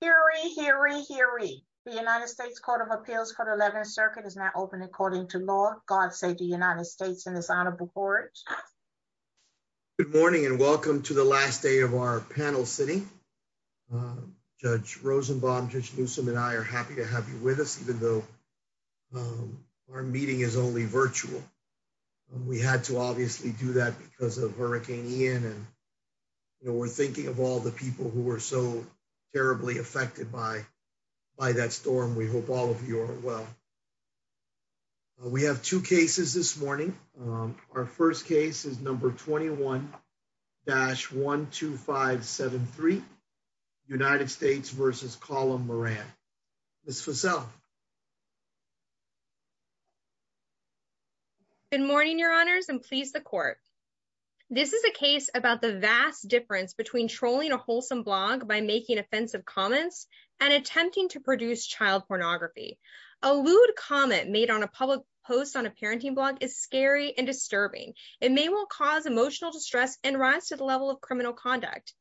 Hear ye, hear ye, hear ye. The United States Court of Appeals for the Eleventh Circuit is now open according to law. God save the United States and His Honorable Courage. Good morning and welcome to the last day of our panel sitting. Judge Rosenbaum, Judge Newsom and I are happy to have you with us even though our meeting is only virtual. We had to obviously do that because of Hurricane Ian and you know we're thinking of all the people who were so terribly affected by that storm. We hope all of you are well. We have two cases this morning. Our first case is number 21-12573, United States v. Colum Moran. Ms. Fussell. Good morning, Your Honors, and please the court. This is a case about the vast difference between a wholesome blog by making offensive comments and attempting to produce child pornography. A lewd comment made on a public post on a parenting blog is scary and disturbing. It may well cause emotional distress and rise to the level of criminal conduct,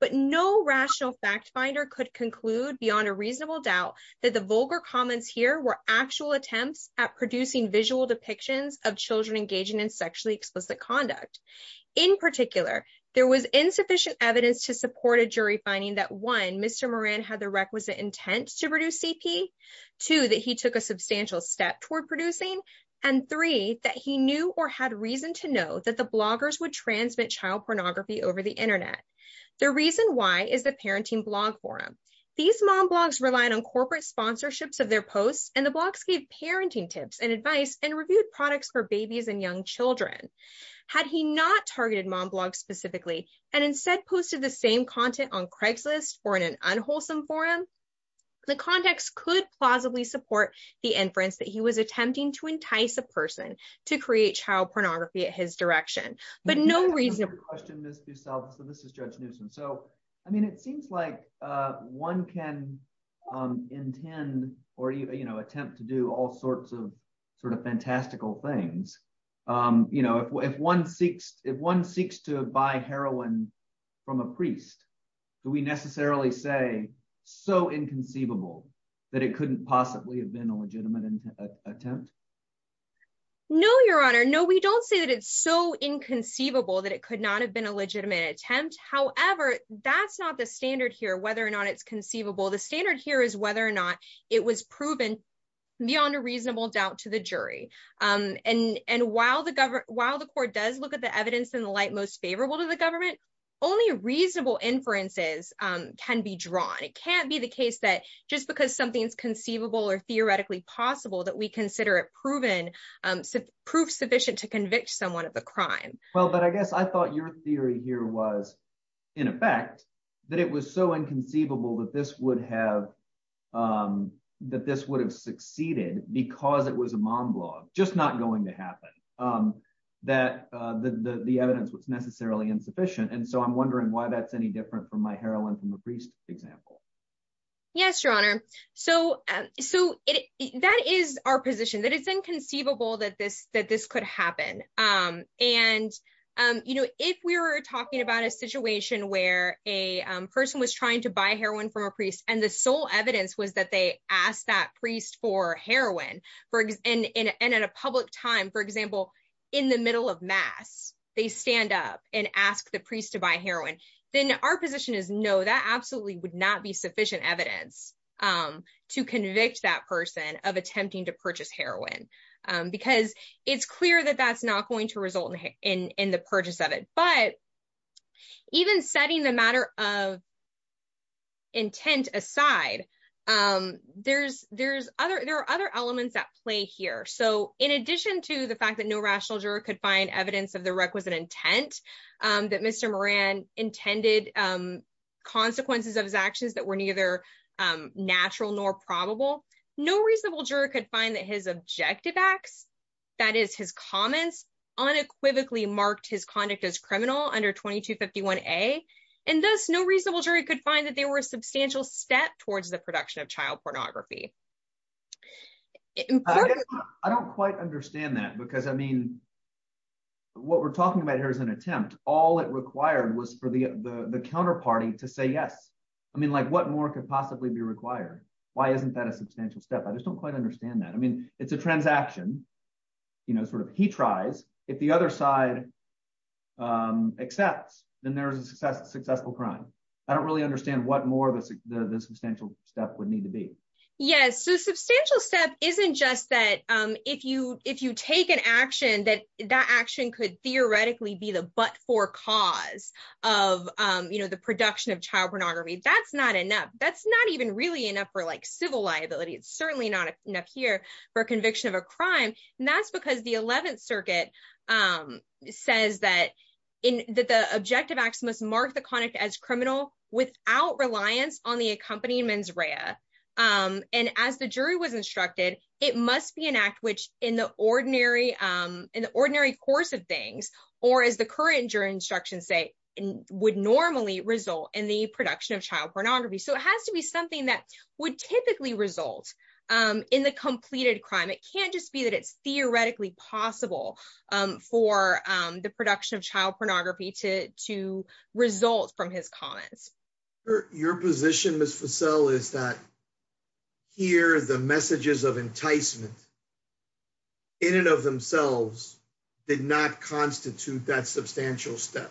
but no rational fact finder could conclude beyond a reasonable doubt that the vulgar comments here were actual attempts at producing visual depictions of children engaging in sexually explicit conduct. In particular, there was insufficient evidence to support a jury finding that 1. Mr. Moran had the requisite intent to produce CP, 2. that he took a substantial step toward producing, and 3. that he knew or had reason to know that the bloggers would transmit child pornography over the internet. The reason why is the parenting blog forum. These mom blogs relied on corporate sponsorships of their posts and the blogs gave parenting tips and advice and had he not targeted mom blogs specifically and instead posted the same content on Craigslist or in an unwholesome forum, the context could plausibly support the inference that he was attempting to entice a person to create child pornography at his direction, but no reason. So this is Judge Newsom. So I mean, it seems like one can intend or, you know, attempt to do all if one seeks, if one seeks to buy heroin from a priest, do we necessarily say, so inconceivable that it couldn't possibly have been a legitimate attempt? No, Your Honor. No, we don't say that it's so inconceivable that it could not have been a legitimate attempt. However, that's not the standard here, whether or not it's conceivable. The standard here is whether or not it was proven beyond a reasonable doubt to the jury. And while the court does look at the evidence in the light most favorable to the government, only reasonable inferences can be drawn. It can't be the case that just because something's conceivable or theoretically possible that we consider it proven, proof sufficient to convict someone of the crime. Well, but I guess I thought your theory here was in effect that it was so just not going to happen that the evidence was necessarily insufficient. And so I'm wondering why that's any different from my heroin from a priest example. Yes, Your Honor. So that is our position that it's inconceivable that this could happen. And, you know, if we were talking about a situation where a person was trying to buy heroin from a priest and the sole evidence was they asked that priest for heroin and at a public time, for example, in the middle of mass, they stand up and ask the priest to buy heroin, then our position is no, that absolutely would not be sufficient evidence to convict that person of attempting to purchase heroin. Because it's clear that that's not going to result in the purchase of it. But even setting the matter of intent aside, there are other elements at play here. So in addition to the fact that no rational juror could find evidence of the requisite intent, that Mr. Moran intended consequences of his actions that were neither natural nor probable, no reasonable juror could find that his objective acts, that is his comments, unequivocally marked his conduct as criminal under 2251A and thus no reasonable jury could find that they were a substantial step towards the production of child pornography. I don't quite understand that because I mean, what we're talking about here is an attempt. All it required was for the counterparty to say yes. I mean, like what more could possibly be required? Why isn't that a substantial step? I just don't quite understand that. I mean, it's a transaction, you know, sort of he tries if the other side accepts, then there's a successful crime. I don't really understand what more the substantial step would need to be. Yes. So substantial step isn't just that if you take an action that that action could theoretically be the but for cause of, you know, the production of child pornography. That's not enough. That's not even really enough for like civil liability. It's says that in that the objective acts must mark the conduct as criminal without reliance on the accompanying mens rea. And as the jury was instructed, it must be an act which in the ordinary, in the ordinary course of things, or as the current jury instructions say, would normally result in the production of child pornography. So it has to be something that would typically result in the completed crime. It can't just be that it's theoretically possible for the production of child pornography to to result from his comments. Your position, Ms. Fussell is that here the messages of enticement in and of themselves did not constitute that substantial step.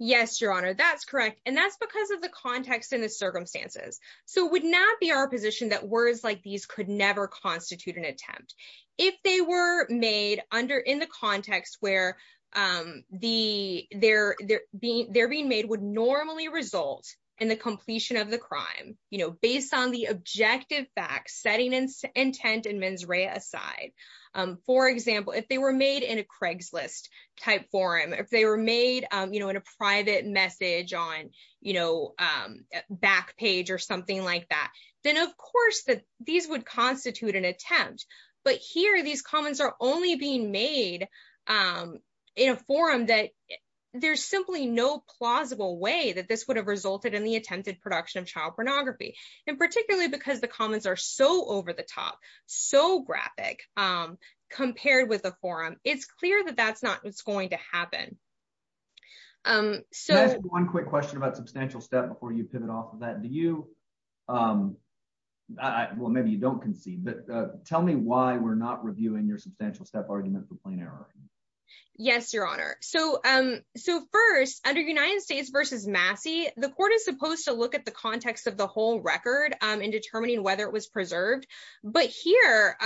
Yes, Your Honor, that's correct. And that's because of the context and the circumstances. So it would not be our position that words like these could never constitute an attempt. If they were made under in the context where the they're, they're being they're being made would normally result in the completion of the crime, you know, based on the objective facts, setting and intent and mens rea aside. For example, if they were made in a Craigslist type forum, if they were made, you know, in a private message on, you know, back page or something like that, then of course, that these would constitute an attempt. But here, these comments are only being made in a forum that there's simply no plausible way that this would have resulted in the attempted production of child pornography. And particularly because the comments are so over the top, so graphic, compared with the forum, it's clear that that's not what's going to happen. So one quick question about substantial step before you pivot off of that, do you? Well, maybe you don't concede, but tell me why we're not reviewing your substantial step argument for plain error. Yes, Your Honor. So um, so first, under United States versus Massey, the court is supposed to look at the context of the whole record in determining whether it was preserved. But here,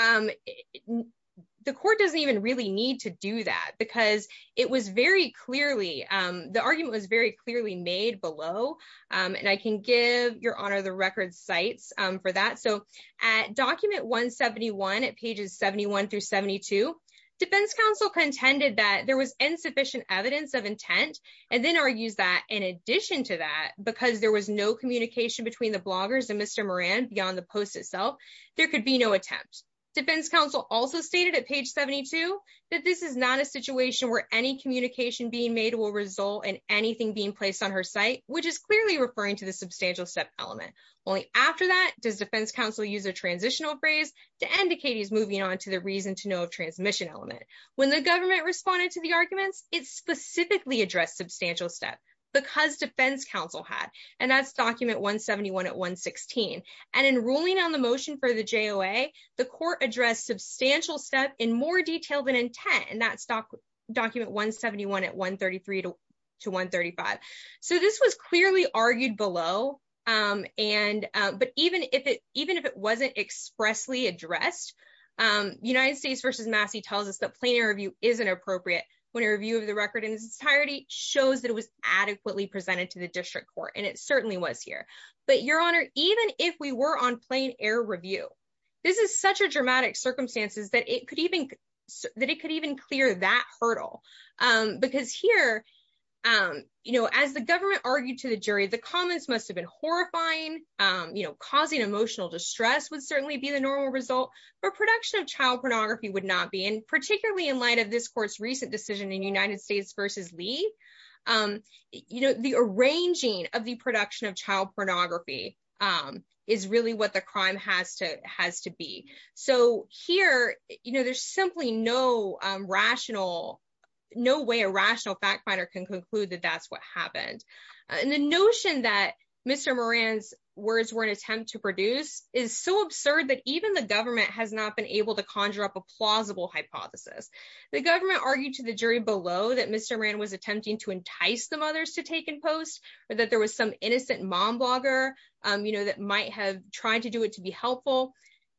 the court doesn't even really need to do that, because it was very clearly, the argument was very clearly made below. And I can give Your Honor the record sites for that. So at document 171, at pages 71 through 72, defense counsel contended that there was insufficient evidence of intent, and then argues that in addition to that, because there was no communication between the bloggers and Mr. Moran beyond the post itself, there could be no attempt. Defense counsel also stated at page 72, that this is not a situation where any communication being made will result in anything being placed on her site, which is clearly referring to the substantial step element. Only after that does defense counsel use a transitional phrase to indicate he's moving on to the reason to know of transmission element. When the government responded to the arguments, it specifically addressed substantial step, because defense counsel had, and that's document 171 at 116. And in ruling on the motion for the JOA, the court addressed substantial step in more detail than intent, and that's document 171 at 133 to 135. So this was clearly argued below. And, but even if it even if it wasn't expressly addressed, United States versus Massey tells us plain air review isn't appropriate, when a review of the record in its entirety shows that it was adequately presented to the district court, and it certainly was here. But Your Honor, even if we were on plain air review, this is such a dramatic circumstances that it could even, that it could even clear that hurdle. Because here, you know, as the government argued to the jury, the comments must have been horrifying, you know, causing emotional distress would certainly be the normal production of child pornography would not be and particularly in light of this court's recent decision in United States versus Lee, you know, the arranging of the production of child pornography is really what the crime has to has to be. So here, you know, there's simply no rational, no way a rational fact finder can conclude that that's what happened. And the notion that Mr. words were an attempt to produce is so absurd that even the government has not been able to conjure up a plausible hypothesis. The government argued to the jury below that Mr. Rand was attempting to entice the mothers to take in post, or that there was some innocent mom blogger, you know, that might have tried to do it to be helpful.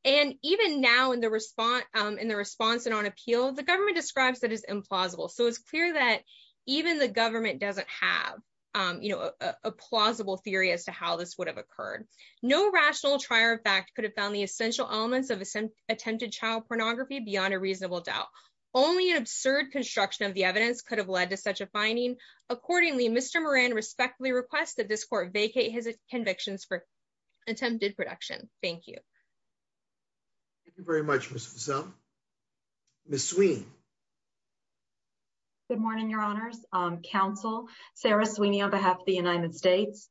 And even now in the response, in the response and on appeal, the government describes that as implausible. So it's clear that even the government doesn't have, you know, a plausible theory as to how this would have occurred. No rational trier of fact could have found the essential elements of some attempted child pornography beyond a reasonable doubt. Only an absurd construction of the evidence could have led to such a finding. Accordingly, Mr. Moran respectfully request that this court vacate his convictions for attempted production. Thank you. Thank you very much, Mr. Sun. Ms. Sweeney. Good morning, Your Honors, counsel, Sarah Sweeney, on behalf of the United States.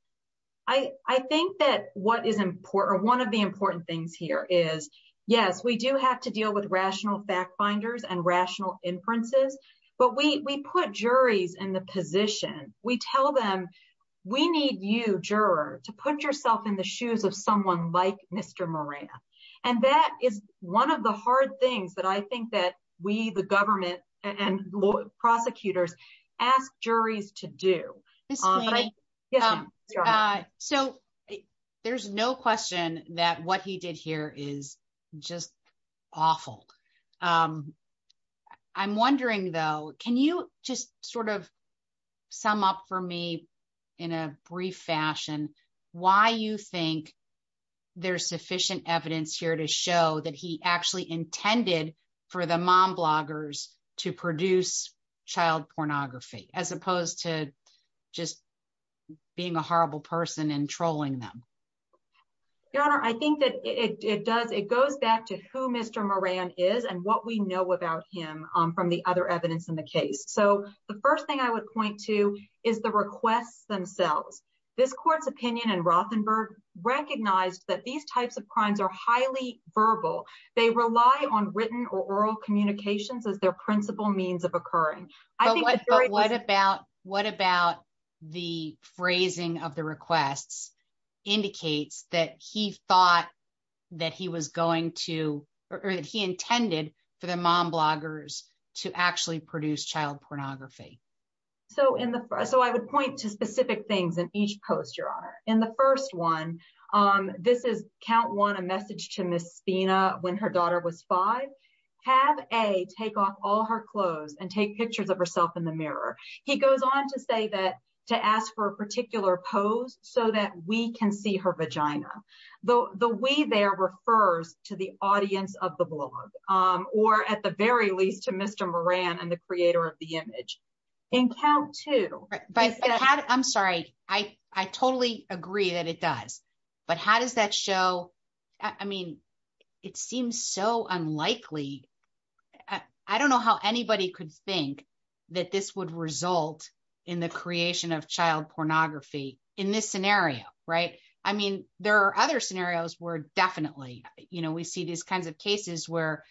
I think that what is important, one of the important things here is, yes, we do have to deal with rational fact finders and rational inferences. But we put juries in the position, we tell them, we need you, juror, to put yourself in the shoes of someone like Mr. Moran. And that is one of the hard things that I think that we, the government and prosecutors, ask juries to do. So there's no question that what he did here is just awful. I'm wondering, though, can you just sort of sum up for me, in a brief fashion, why you think there's sufficient evidence here to show that he actually intended for the mom bloggers to produce child pornography, as opposed to just being a horrible person and trolling them? Your Honor, I think that it does, it goes back to who Mr. Moran is and what we know about him from the other evidence in the case. So the first thing I would point to is the requests themselves. This court's opinion in Rothenberg recognized that these types of crimes are highly verbal. They rely on written or oral communications as their principal means of occurring. But what about the phrasing of the requests indicates that he thought that he was going to, or that he intended, for the mom bloggers to actually produce child pornography? So I would point to specific things in each post, Your Honor. In the first one, this is count one, a message to Ms. Spina when her daughter was five. Have A, take off all her clothes and take pictures of herself in the mirror. He goes on to say that, to ask for a particular pose so that we can see her vagina. The we there refers to the audience of the blog, or at the very least to Mr. Moran and the creator of the image. In count two- I'm sorry, I totally agree that it does. But how does that show? I mean, it seems so unlikely. I don't know how anybody could think that this would result in the creation of child pornography in this scenario, right? I mean, there are other scenarios where definitely, you know, we see these kinds of cases where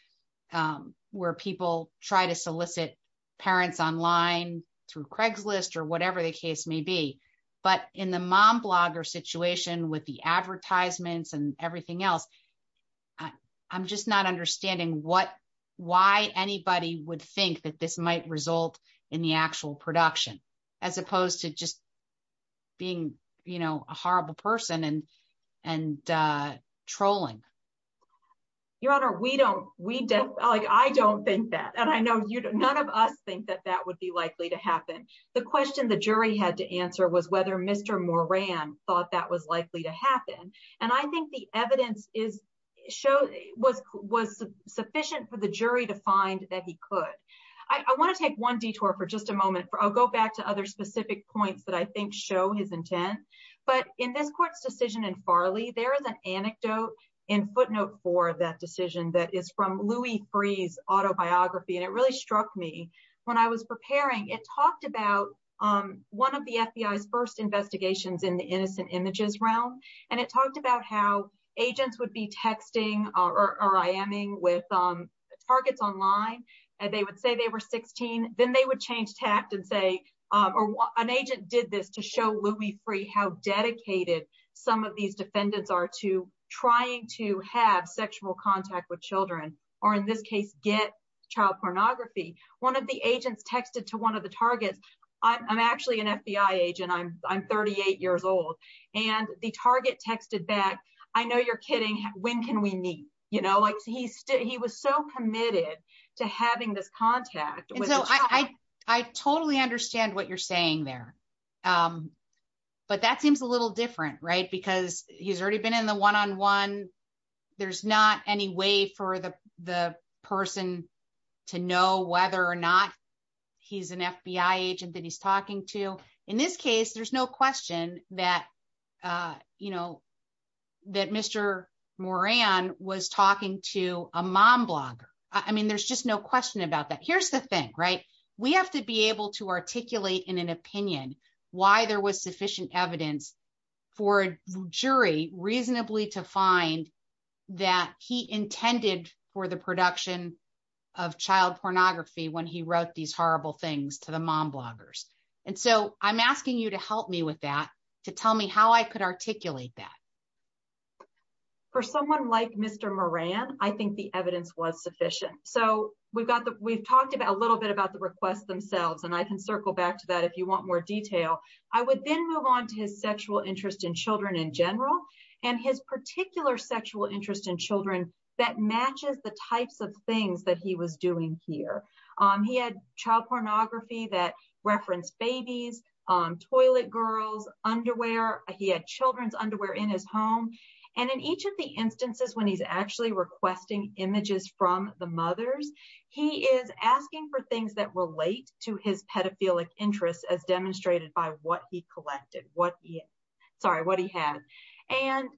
people try to solicit parents online through Craigslist or whatever the case may be. But in the mom blogger situation with the advertisements and everything else, I'm just not understanding why anybody would think that this might result in the actual production, as opposed to just being, you know, a horrible person and, and trolling. Your Honor, we don't, we don't like I don't think that and I know you don't none of us think that that would be likely to happen. The question the jury had to answer was whether Mr. Moran thought that was likely to happen. And I think the evidence is show was was sufficient for the jury to find that he could. I want to take one detour for just a moment. I'll go back to other specific points that I think show his intent. But in this court's decision in Farley, there is an anecdote in footnote for that decision that is from Louis Free's autobiography. And it really struck me when I was preparing, it talked about one of the FBI's first investigations in the innocent images realm. And it talked about how agents would be texting or IMing with targets online, and they would say they were 16, then they would change tact and say, or an agent did this to show Louis Free how dedicated some of these defendants are to trying to have sexual contact with children, or in this case, get child pornography. One of the agents texted to one of the targets, I'm actually an FBI agent, I'm 38 years old. And the target texted back, I know you're kidding, when can we meet? You know, like he said, he was so committed to having this contact. And so I totally understand what you're saying there. But that seems a little different, right? Because he's already been in the one on one. There's not any way for the person to know whether or not he's an FBI agent that he's talking to. In this case, there's no question that Mr. Moran was talking to a mom blogger. I mean, there's just no question about that. Here's the thing, right? We have to be able to articulate in an opinion, why there was sufficient evidence for a jury reasonably to find that he intended for the production of child pornography when he wrote these horrible things to the mom bloggers. And so I'm asking you to help me with that, to tell me how I could articulate that. For someone like Mr. Moran, I think the evidence was sufficient. So we've got the we've talked about a little bit about the request themselves. And I can circle back to that if you want more detail, I would then move on to his sexual interest in children in general, and his particular sexual interest in children that matches the types of things that he was doing here. He had child pornography that referenced babies, on toilet girls, underwear, he had children's underwear in his home. And in each of the instances when he's actually requesting images from the mothers, he is asking for things that relate to his pedophilic interests as demonstrated by what he had. And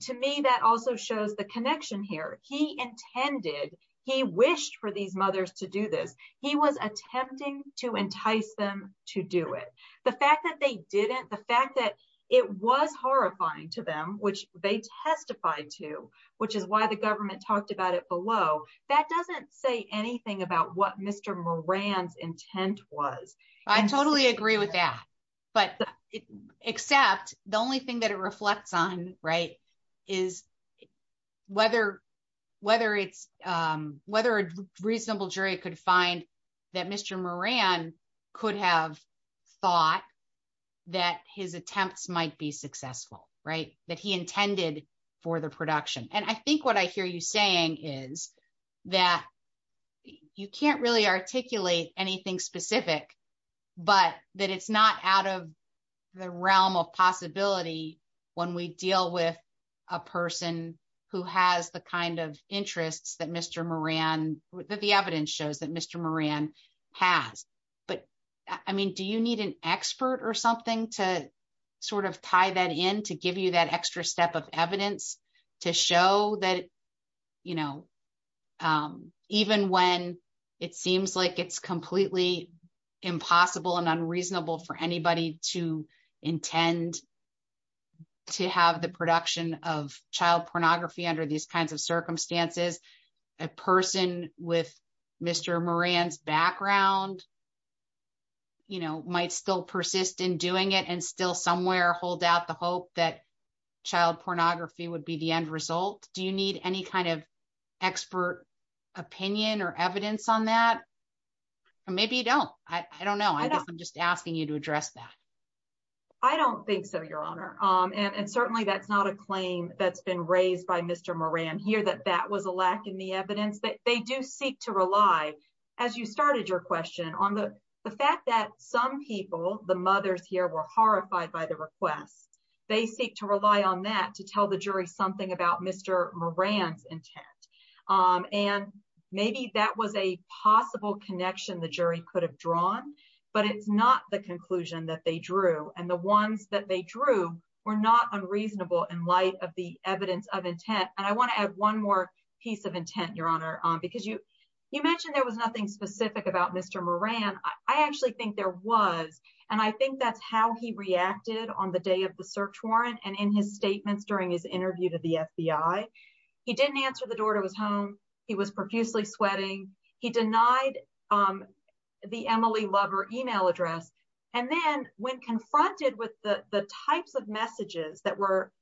to me, that also shows the connection here, he intended, he wished for these mothers to do this, he was attempting to entice them to do it. The fact that they didn't, the fact that it was horrifying to them, which they testified to, which is why the government talked about it below. That doesn't say anything about what Mr. Moran's intent was. I totally agree with that. But except the only thing that it reflects on, right, is whether a reasonable jury could find that Mr. Moran could have thought that his attempts might be successful, right, that he intended for the production. And I think what I hear you saying is that you can't really articulate anything specific, but that it's not out of the realm of possibility when we deal with a person who has the kind of interests that Mr. Moran, that the evidence shows that Mr. Moran has. But I mean, do you need an expert or something to sort of tie that in to give you that extra step of evidence to show that, you know, even when it seems like it's completely impossible and unreasonable for anybody to intend to have the production of child pornography under these kinds of circumstances, a person with Mr. Moran's background, you know, might still persist in doing it and still somewhere hold out the hope that child pornography would be the end result? Do you need any kind of expert opinion or evidence on that? Or maybe you don't. I don't know. I guess I'm just asking you to address that. I don't think so, Your Honor. And certainly that's not a claim that's been raised by Mr. Moran here, that that was a lack in the evidence. They do seek to rely, as you started your question, on the fact that some people, the mothers here, were horrified by the request. They seek to rely on that to tell the jury something about Mr. Moran's intent. And maybe that was a possible connection the jury could have drawn, but it's not the conclusion that they drew. And the ones that they drew were not unreasonable in light of the evidence of intent. And I want to add one more piece of intent, Your Honor, because you mentioned there was nothing specific about Mr. Moran. I actually think there was. And I think that's how he reacted on the day of the search warrant and in his statements during his interview to the FBI. He didn't answer the door to his home. He was profusely sweating. He denied the Emily Lover email address. And then when confronted with the types of messages that were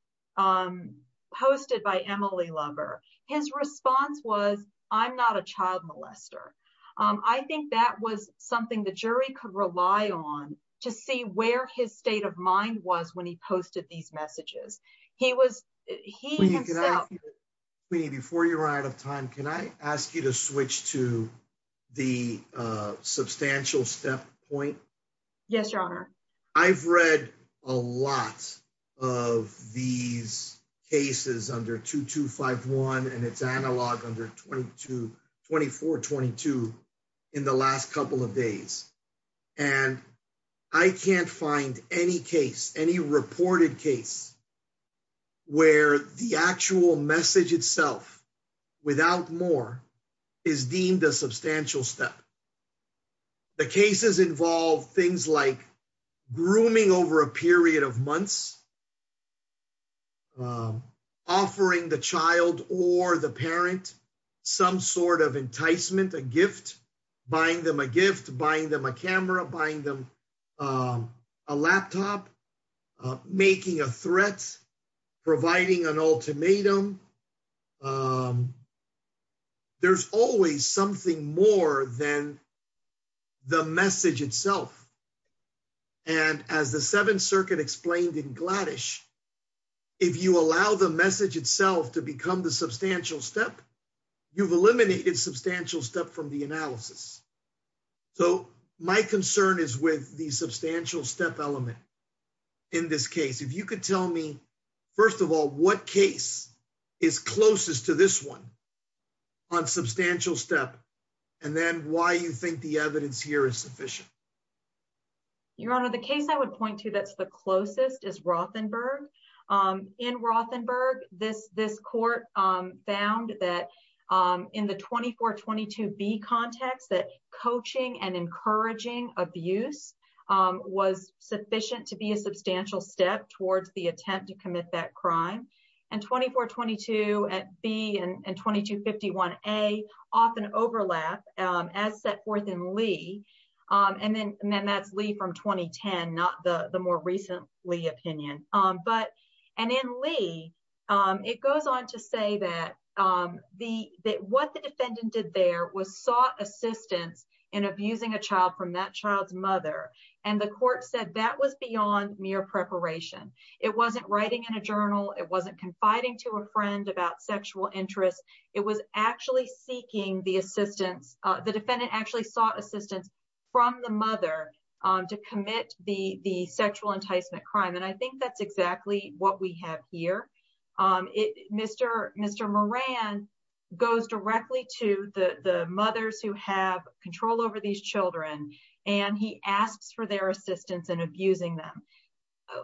posted by Emily Lover, his response was, I'm not a child molester. I think that was something the jury could rely on to see where his state of mind was when he posted these messages. He was, he himself... Queenie, before you run out of time, can I ask you to switch to the substantial step point? Yes, Your Honor. I've read a lot of these cases under 2251 and its analog under 2422 in the last couple of days. And I can't find any case, any reported case where the actual message itself without more is deemed a substantial step. The cases involve things like grooming over a period of months, offering the child or the parent some sort of enticement, a gift, buying them a gift, buying them a camera, buying them a laptop, making a threat, providing an ultimatum, there's always something more than the message itself. And as the Seventh Circuit explained in Gladish, if you allow the message itself to become the substantial step, you've eliminated substantial step from the analysis. So my concern is with the substantial step element in this case. If you could tell me, first of all, what case is closest to this one on substantial step, and then why you think the evidence here is sufficient. Your Honor, the case I would point to that's the closest is Rothenberg. In Rothenberg, this court found that in the 2422B context, that coaching and encouraging abuse was sufficient to be a attempt to commit that crime. And 2422B and 2251A often overlap as set forth in Lee. And then that's Lee from 2010, not the more recent Lee opinion. But, and in Lee, it goes on to say that what the defendant did there was sought assistance in abusing a child from that child's mother. And the court said that was beyond mere preparation. It wasn't writing in a journal, it wasn't confiding to a friend about sexual interest. It was actually seeking the assistance, the defendant actually sought assistance from the mother to commit the sexual enticement crime. And I think that's exactly what we have here. Mr. Moran goes directly to the mothers who have control over these children, and he asks for their assistance in abusing them.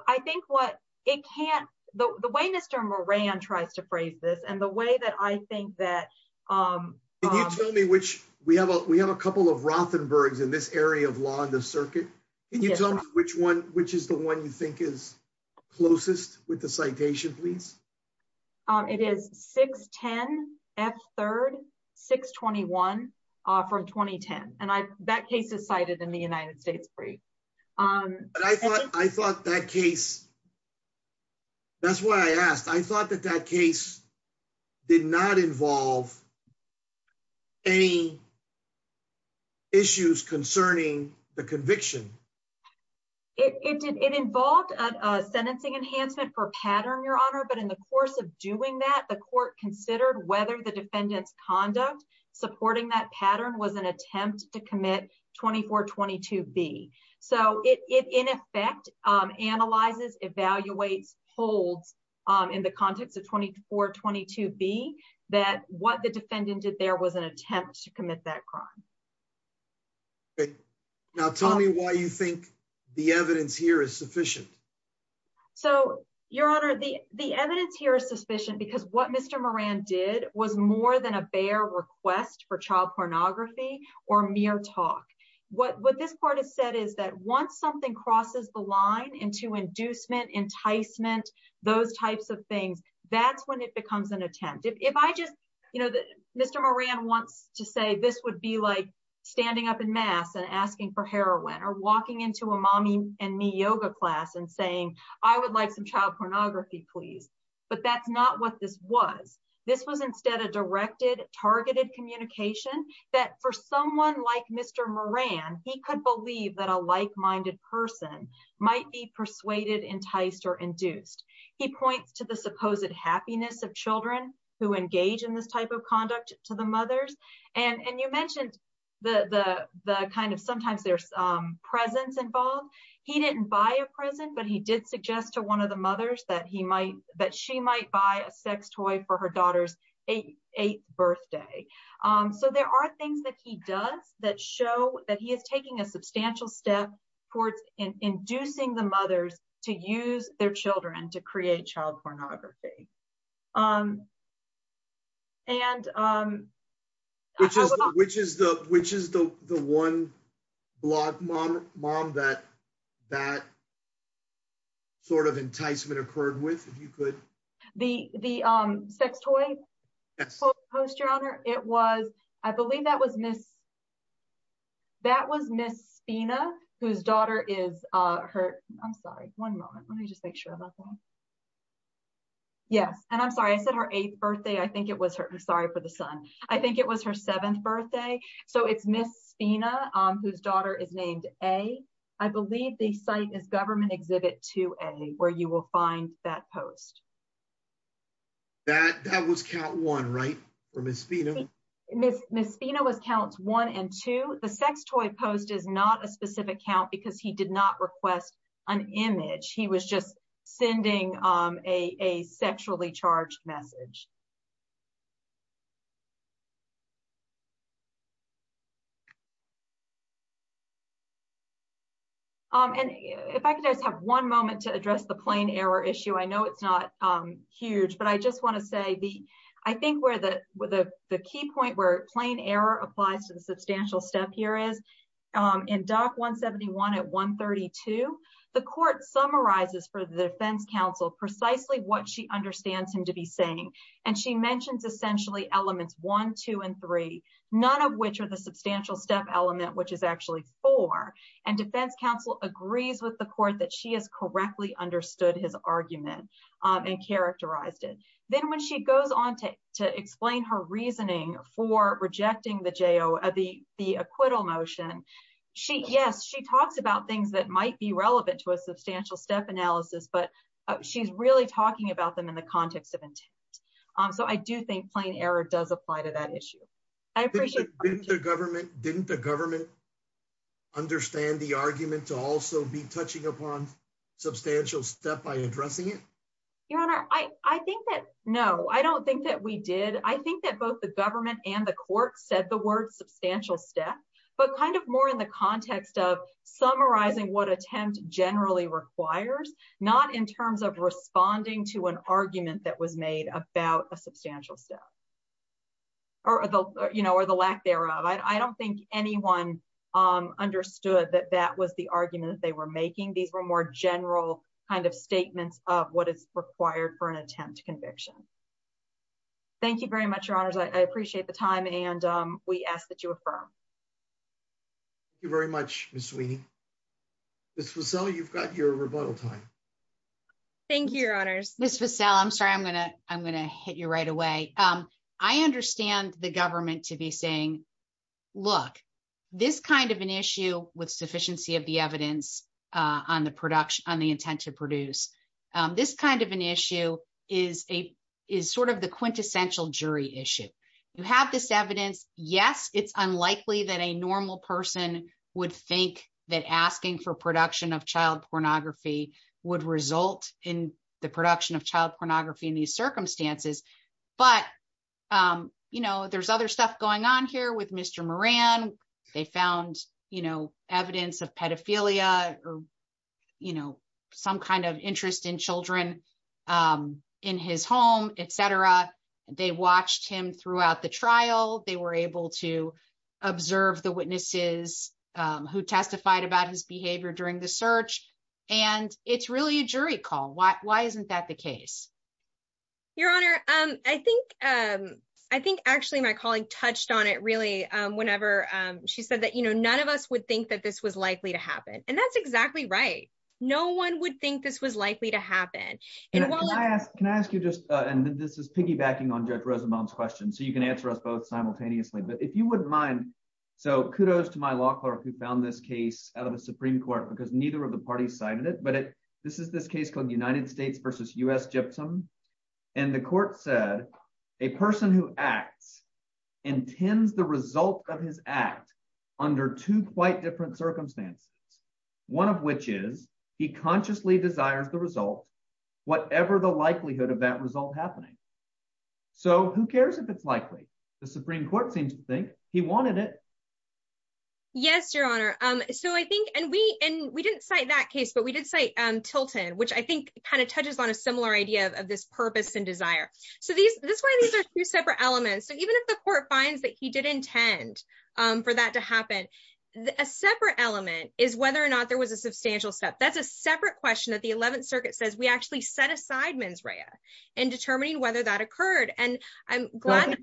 I think what it can't, the way Mr. Moran tries to phrase this and the way that I think that- Can you tell me which, we have a couple of Rothenbergs in this area of law in the circuit. Can you tell me which one, which is the one you think is closest with the citation, please? It is 610 F3, 621 from 2010. And that case is cited in the United States brief. I thought that case, that's why I asked. I thought that that case did not involve any issues concerning the conviction. It involved a sentencing enhancement for pattern, Your Honor. But in the course of doing that, the court considered whether the defendant's conduct supporting that pattern was an attempt to commit 2422B. So it in effect analyzes, evaluates, holds in the context of 2422B that what the defendant did there was an attempt to commit that crime. Okay. Now tell me why you think the evidence here is sufficient. So Your Honor, the evidence here is sufficient because what Mr. Moran did was more than a bare request for child pornography or mere talk. What this court has said is that once something crosses the line into inducement, enticement, those types of things, that's when it becomes an attempt. If I just, you know, Mr. Moran wants to say this would be like standing up in mass and asking for heroin or walking into a mommy and me yoga class and saying, I would like some child pornography, please. But that's not what this was. This was instead of directed, targeted communication that for someone like Mr. Moran, he could believe that a like-minded person might be persuaded, enticed, or induced. He points to the supposed happiness of children who engage in this type of conduct to the mothers. And you mentioned the kind of sometimes there's presents involved. He didn't buy a present, but he did suggest to one of the mothers that he might, that she might buy a sex toy for her daughter's eighth birthday. So there are things that he does that show that he is taking a substantial step towards inducing the mothers to use their children to create child pornography. Which is the one blog mom that that sort of enticement occurred with, if you could. The sex toy post, your honor, it was, I believe that was Miss, that was Miss Spina, whose daughter is her, I'm sorry, one moment. Let me just make sure about that. Yes. And I'm sorry, I said her eighth birthday. I think it was her, I'm sorry for the son. I think it was her seventh birthday. So it's Miss Spina, whose daughter is named A. I believe the site is government exhibit 2A, where you will find that post. That, that was count one, right? Or Miss Spina? Miss Spina was counts one and two. The sex toy post is not a specific count because he did not request an image. He was just sending a sexually charged message. And if I could just have one moment to address the plane error issue. I know it's not huge, but I just want to say the, I think where the, the key point where plane error applies to the substantial step here is in doc 171 at 132, the court summarizes for the defense counsel, precisely what she understands him to be saying. And she mentioned essentially elements one, two, and three, none of which are the substantial step element, which is actually four. And defense counsel agrees with the court that she has correctly understood his argument and characterized it. Then when she goes on to, to explain her reasoning for rejecting the JO, the, the acquittal motion, she, yes, she talks about things that might be relevant to a substantial step analysis, but she's really talking about them in the context of intent. So I do think plane error does apply to that issue. I appreciate the government. Didn't the government understand the argument to also be touching upon substantial step by addressing it? Your honor. I, I think that, no, I don't think that we did. I think that both the government and the court said the word substantial step, but kind of more in the context of summarizing what attempt generally requires, not in terms of responding to an argument that was made about substantial step or the, you know, or the lack thereof. I don't think anyone understood that that was the argument that they were making. These were more general kind of statements of what is required for an attempt to conviction. Thank you very much. Your honors. I appreciate the time. And we ask that you affirm. Thank you very much, Ms. Sweeney. This was, so you've got your rebuttal time. Thank you, your honors, I'm sorry. I'm going to, I'm going to hit you right away. I understand the government to be saying, look, this kind of an issue with sufficiency of the evidence on the production, on the intent to produce this kind of an issue is a, is sort of the quintessential jury issue. You have this evidence. Yes. It's unlikely that a normal person would think that asking for child pornography in these circumstances, but you know, there's other stuff going on here with Mr. Moran. They found, you know, evidence of pedophilia or, you know, some kind of interest in children in his home, et cetera. They watched him throughout the trial. They were able to observe the witnesses who testified about his behavior during the search. And it's really a jury call. Why, why isn't that the case? Your honor. I think, I think actually my colleague touched on it really, whenever she said that, you know, none of us would think that this was likely to happen. And that's exactly right. No one would think this was likely to happen. Can I ask you just, and this is piggybacking on Judge Rosenbaum's question. So you can answer us both simultaneously, but if you wouldn't mind, so kudos to my law clerk who found this case out of Supreme court, because neither of the parties cited it, but this is this case called United States versus U.S. Gypsum. And the court said a person who acts intends the result of his act under two quite different circumstances. One of which is he consciously desires the result, whatever the likelihood of that result happening. So who cares if it's likely the Supreme court seems to think he wanted it. Yes, your honor. So I think, and we, and we didn't cite that case, but we did say Tilton, which I think kind of touches on a similar idea of this purpose and desire. So these, this way, these are two separate elements. So even if the court finds that he did intend for that to happen, a separate element is whether or not there was a substantial step. That's a separate question that the 11th circuit says we actually set aside mens rea and determining whether that occurred. And I'm glad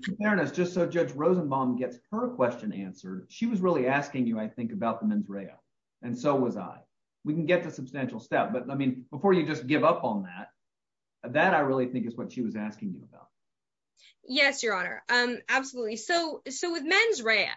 just so judge Rosenbaum gets her question answered. She was really asking you, I think about the mens rea. And so was I, we can get to substantial step, but I mean, before you just give up on that, that I really think is what she was asking you about. Yes, your honor. Absolutely. So, so with mens rea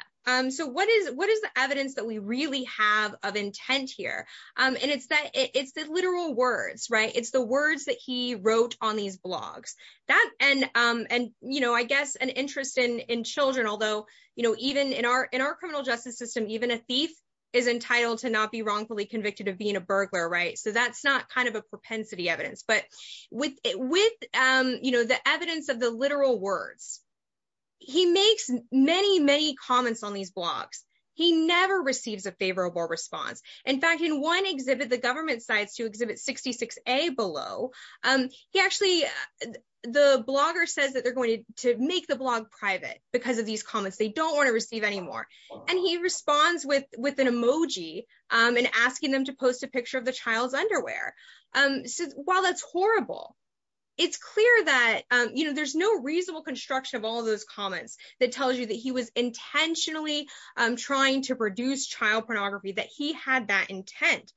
so what is, what is the evidence that we really have of intent here? And it's that it's the literal words, right? It's the words that he wrote on these blogs that, and, and, you know, I guess an interest in, in children, although, you know, even in our, in our criminal justice system, even a thief is entitled to not be wrongfully convicted of being a burglar, right? So that's not kind of a propensity evidence, but with, with you know, the evidence of the literal words, he makes many, many comments on these blogs. He never receives a favorable response. In fact, in one exhibit, the government sites to exhibit 66a below, he actually, the blogger says that they're going to make the blog private because of these comments they don't want to receive anymore. And he responds with, with an emoji and asking them to post a picture of the child's underwear. So while that's horrible, it's clear that, you know, there's no reasonable construction of all those comments that tells you that he was intentionally trying to produce child pornography, that he had that intent.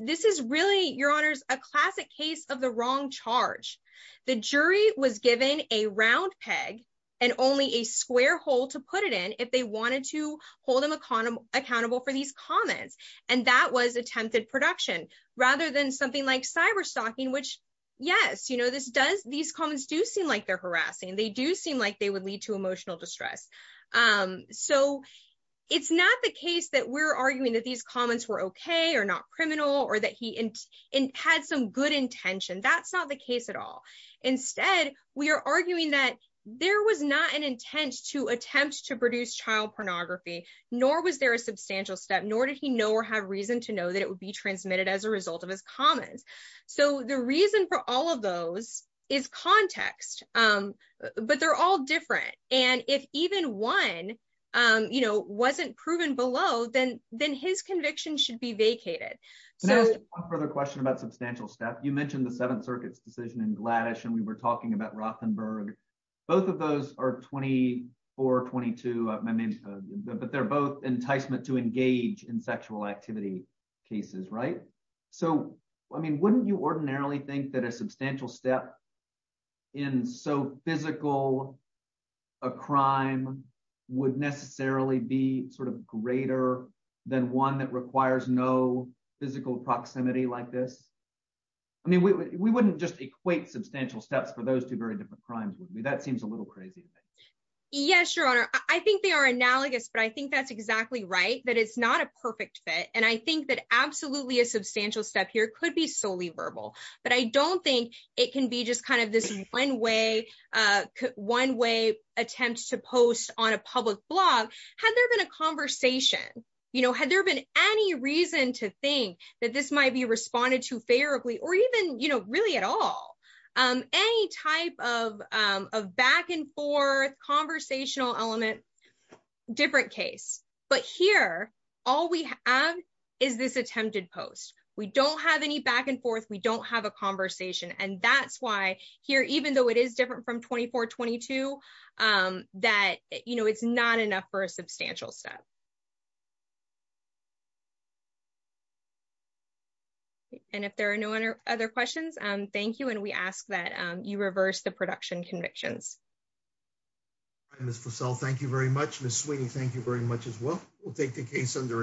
This is really your honors, a classic case of the wrong charge. The jury was given a round peg and only a square hole to put it in if they wanted to hold them accountable, accountable for these comments. And that was attempted production rather than something like cyber stalking, which yes, you know, this does, these comments do seem like they're harassing. They do seem like they would lead to emotional distress. So it's not the case that we're arguing that these comments were okay, or not criminal, or that he had some good intention. That's not the case at all. Instead, we are arguing that there was not an intent to attempt to produce child pornography, nor was there a substantial step, nor did he know or have reason to know that it would be transmitted as a result of his comments. So the reason for those is context. But they're all different. And if even one, you know, wasn't proven below, then then his conviction should be vacated. So for the question about substantial stuff, you mentioned the Seventh Circuit's decision in Gladys, and we were talking about Rothenberg, both of those are 2422. I mean, but they're both enticement to engage in sexual activity cases, right? So, I mean, wouldn't you ordinarily think that a substantial step in so physical a crime would necessarily be sort of greater than one that requires no physical proximity like this? I mean, we wouldn't just equate substantial steps for those two very different crimes, would we? That seems a little crazy. Yes, Your Honor, I think they are analogous. But I think that's exactly right, that it's not a perfect fit. And I think that absolutely a substantial step here could be solely verbal. But I don't think it can be just kind of this one way, one way attempt to post on a public blog, had there been a conversation, you know, had there been any reason to think that this might be responded to favorably, or even, you know, But here, all we have is this attempted post, we don't have any back and forth, we don't have a conversation. And that's why here, even though it is different from 2422, that, you know, it's not enough for a substantial step. And if there are no other questions, thank you. And we ask that you reverse the production convictions. Miss Fussell, thank you very much. Miss Sweeney, thank you very much as well. We'll take the case under advisement.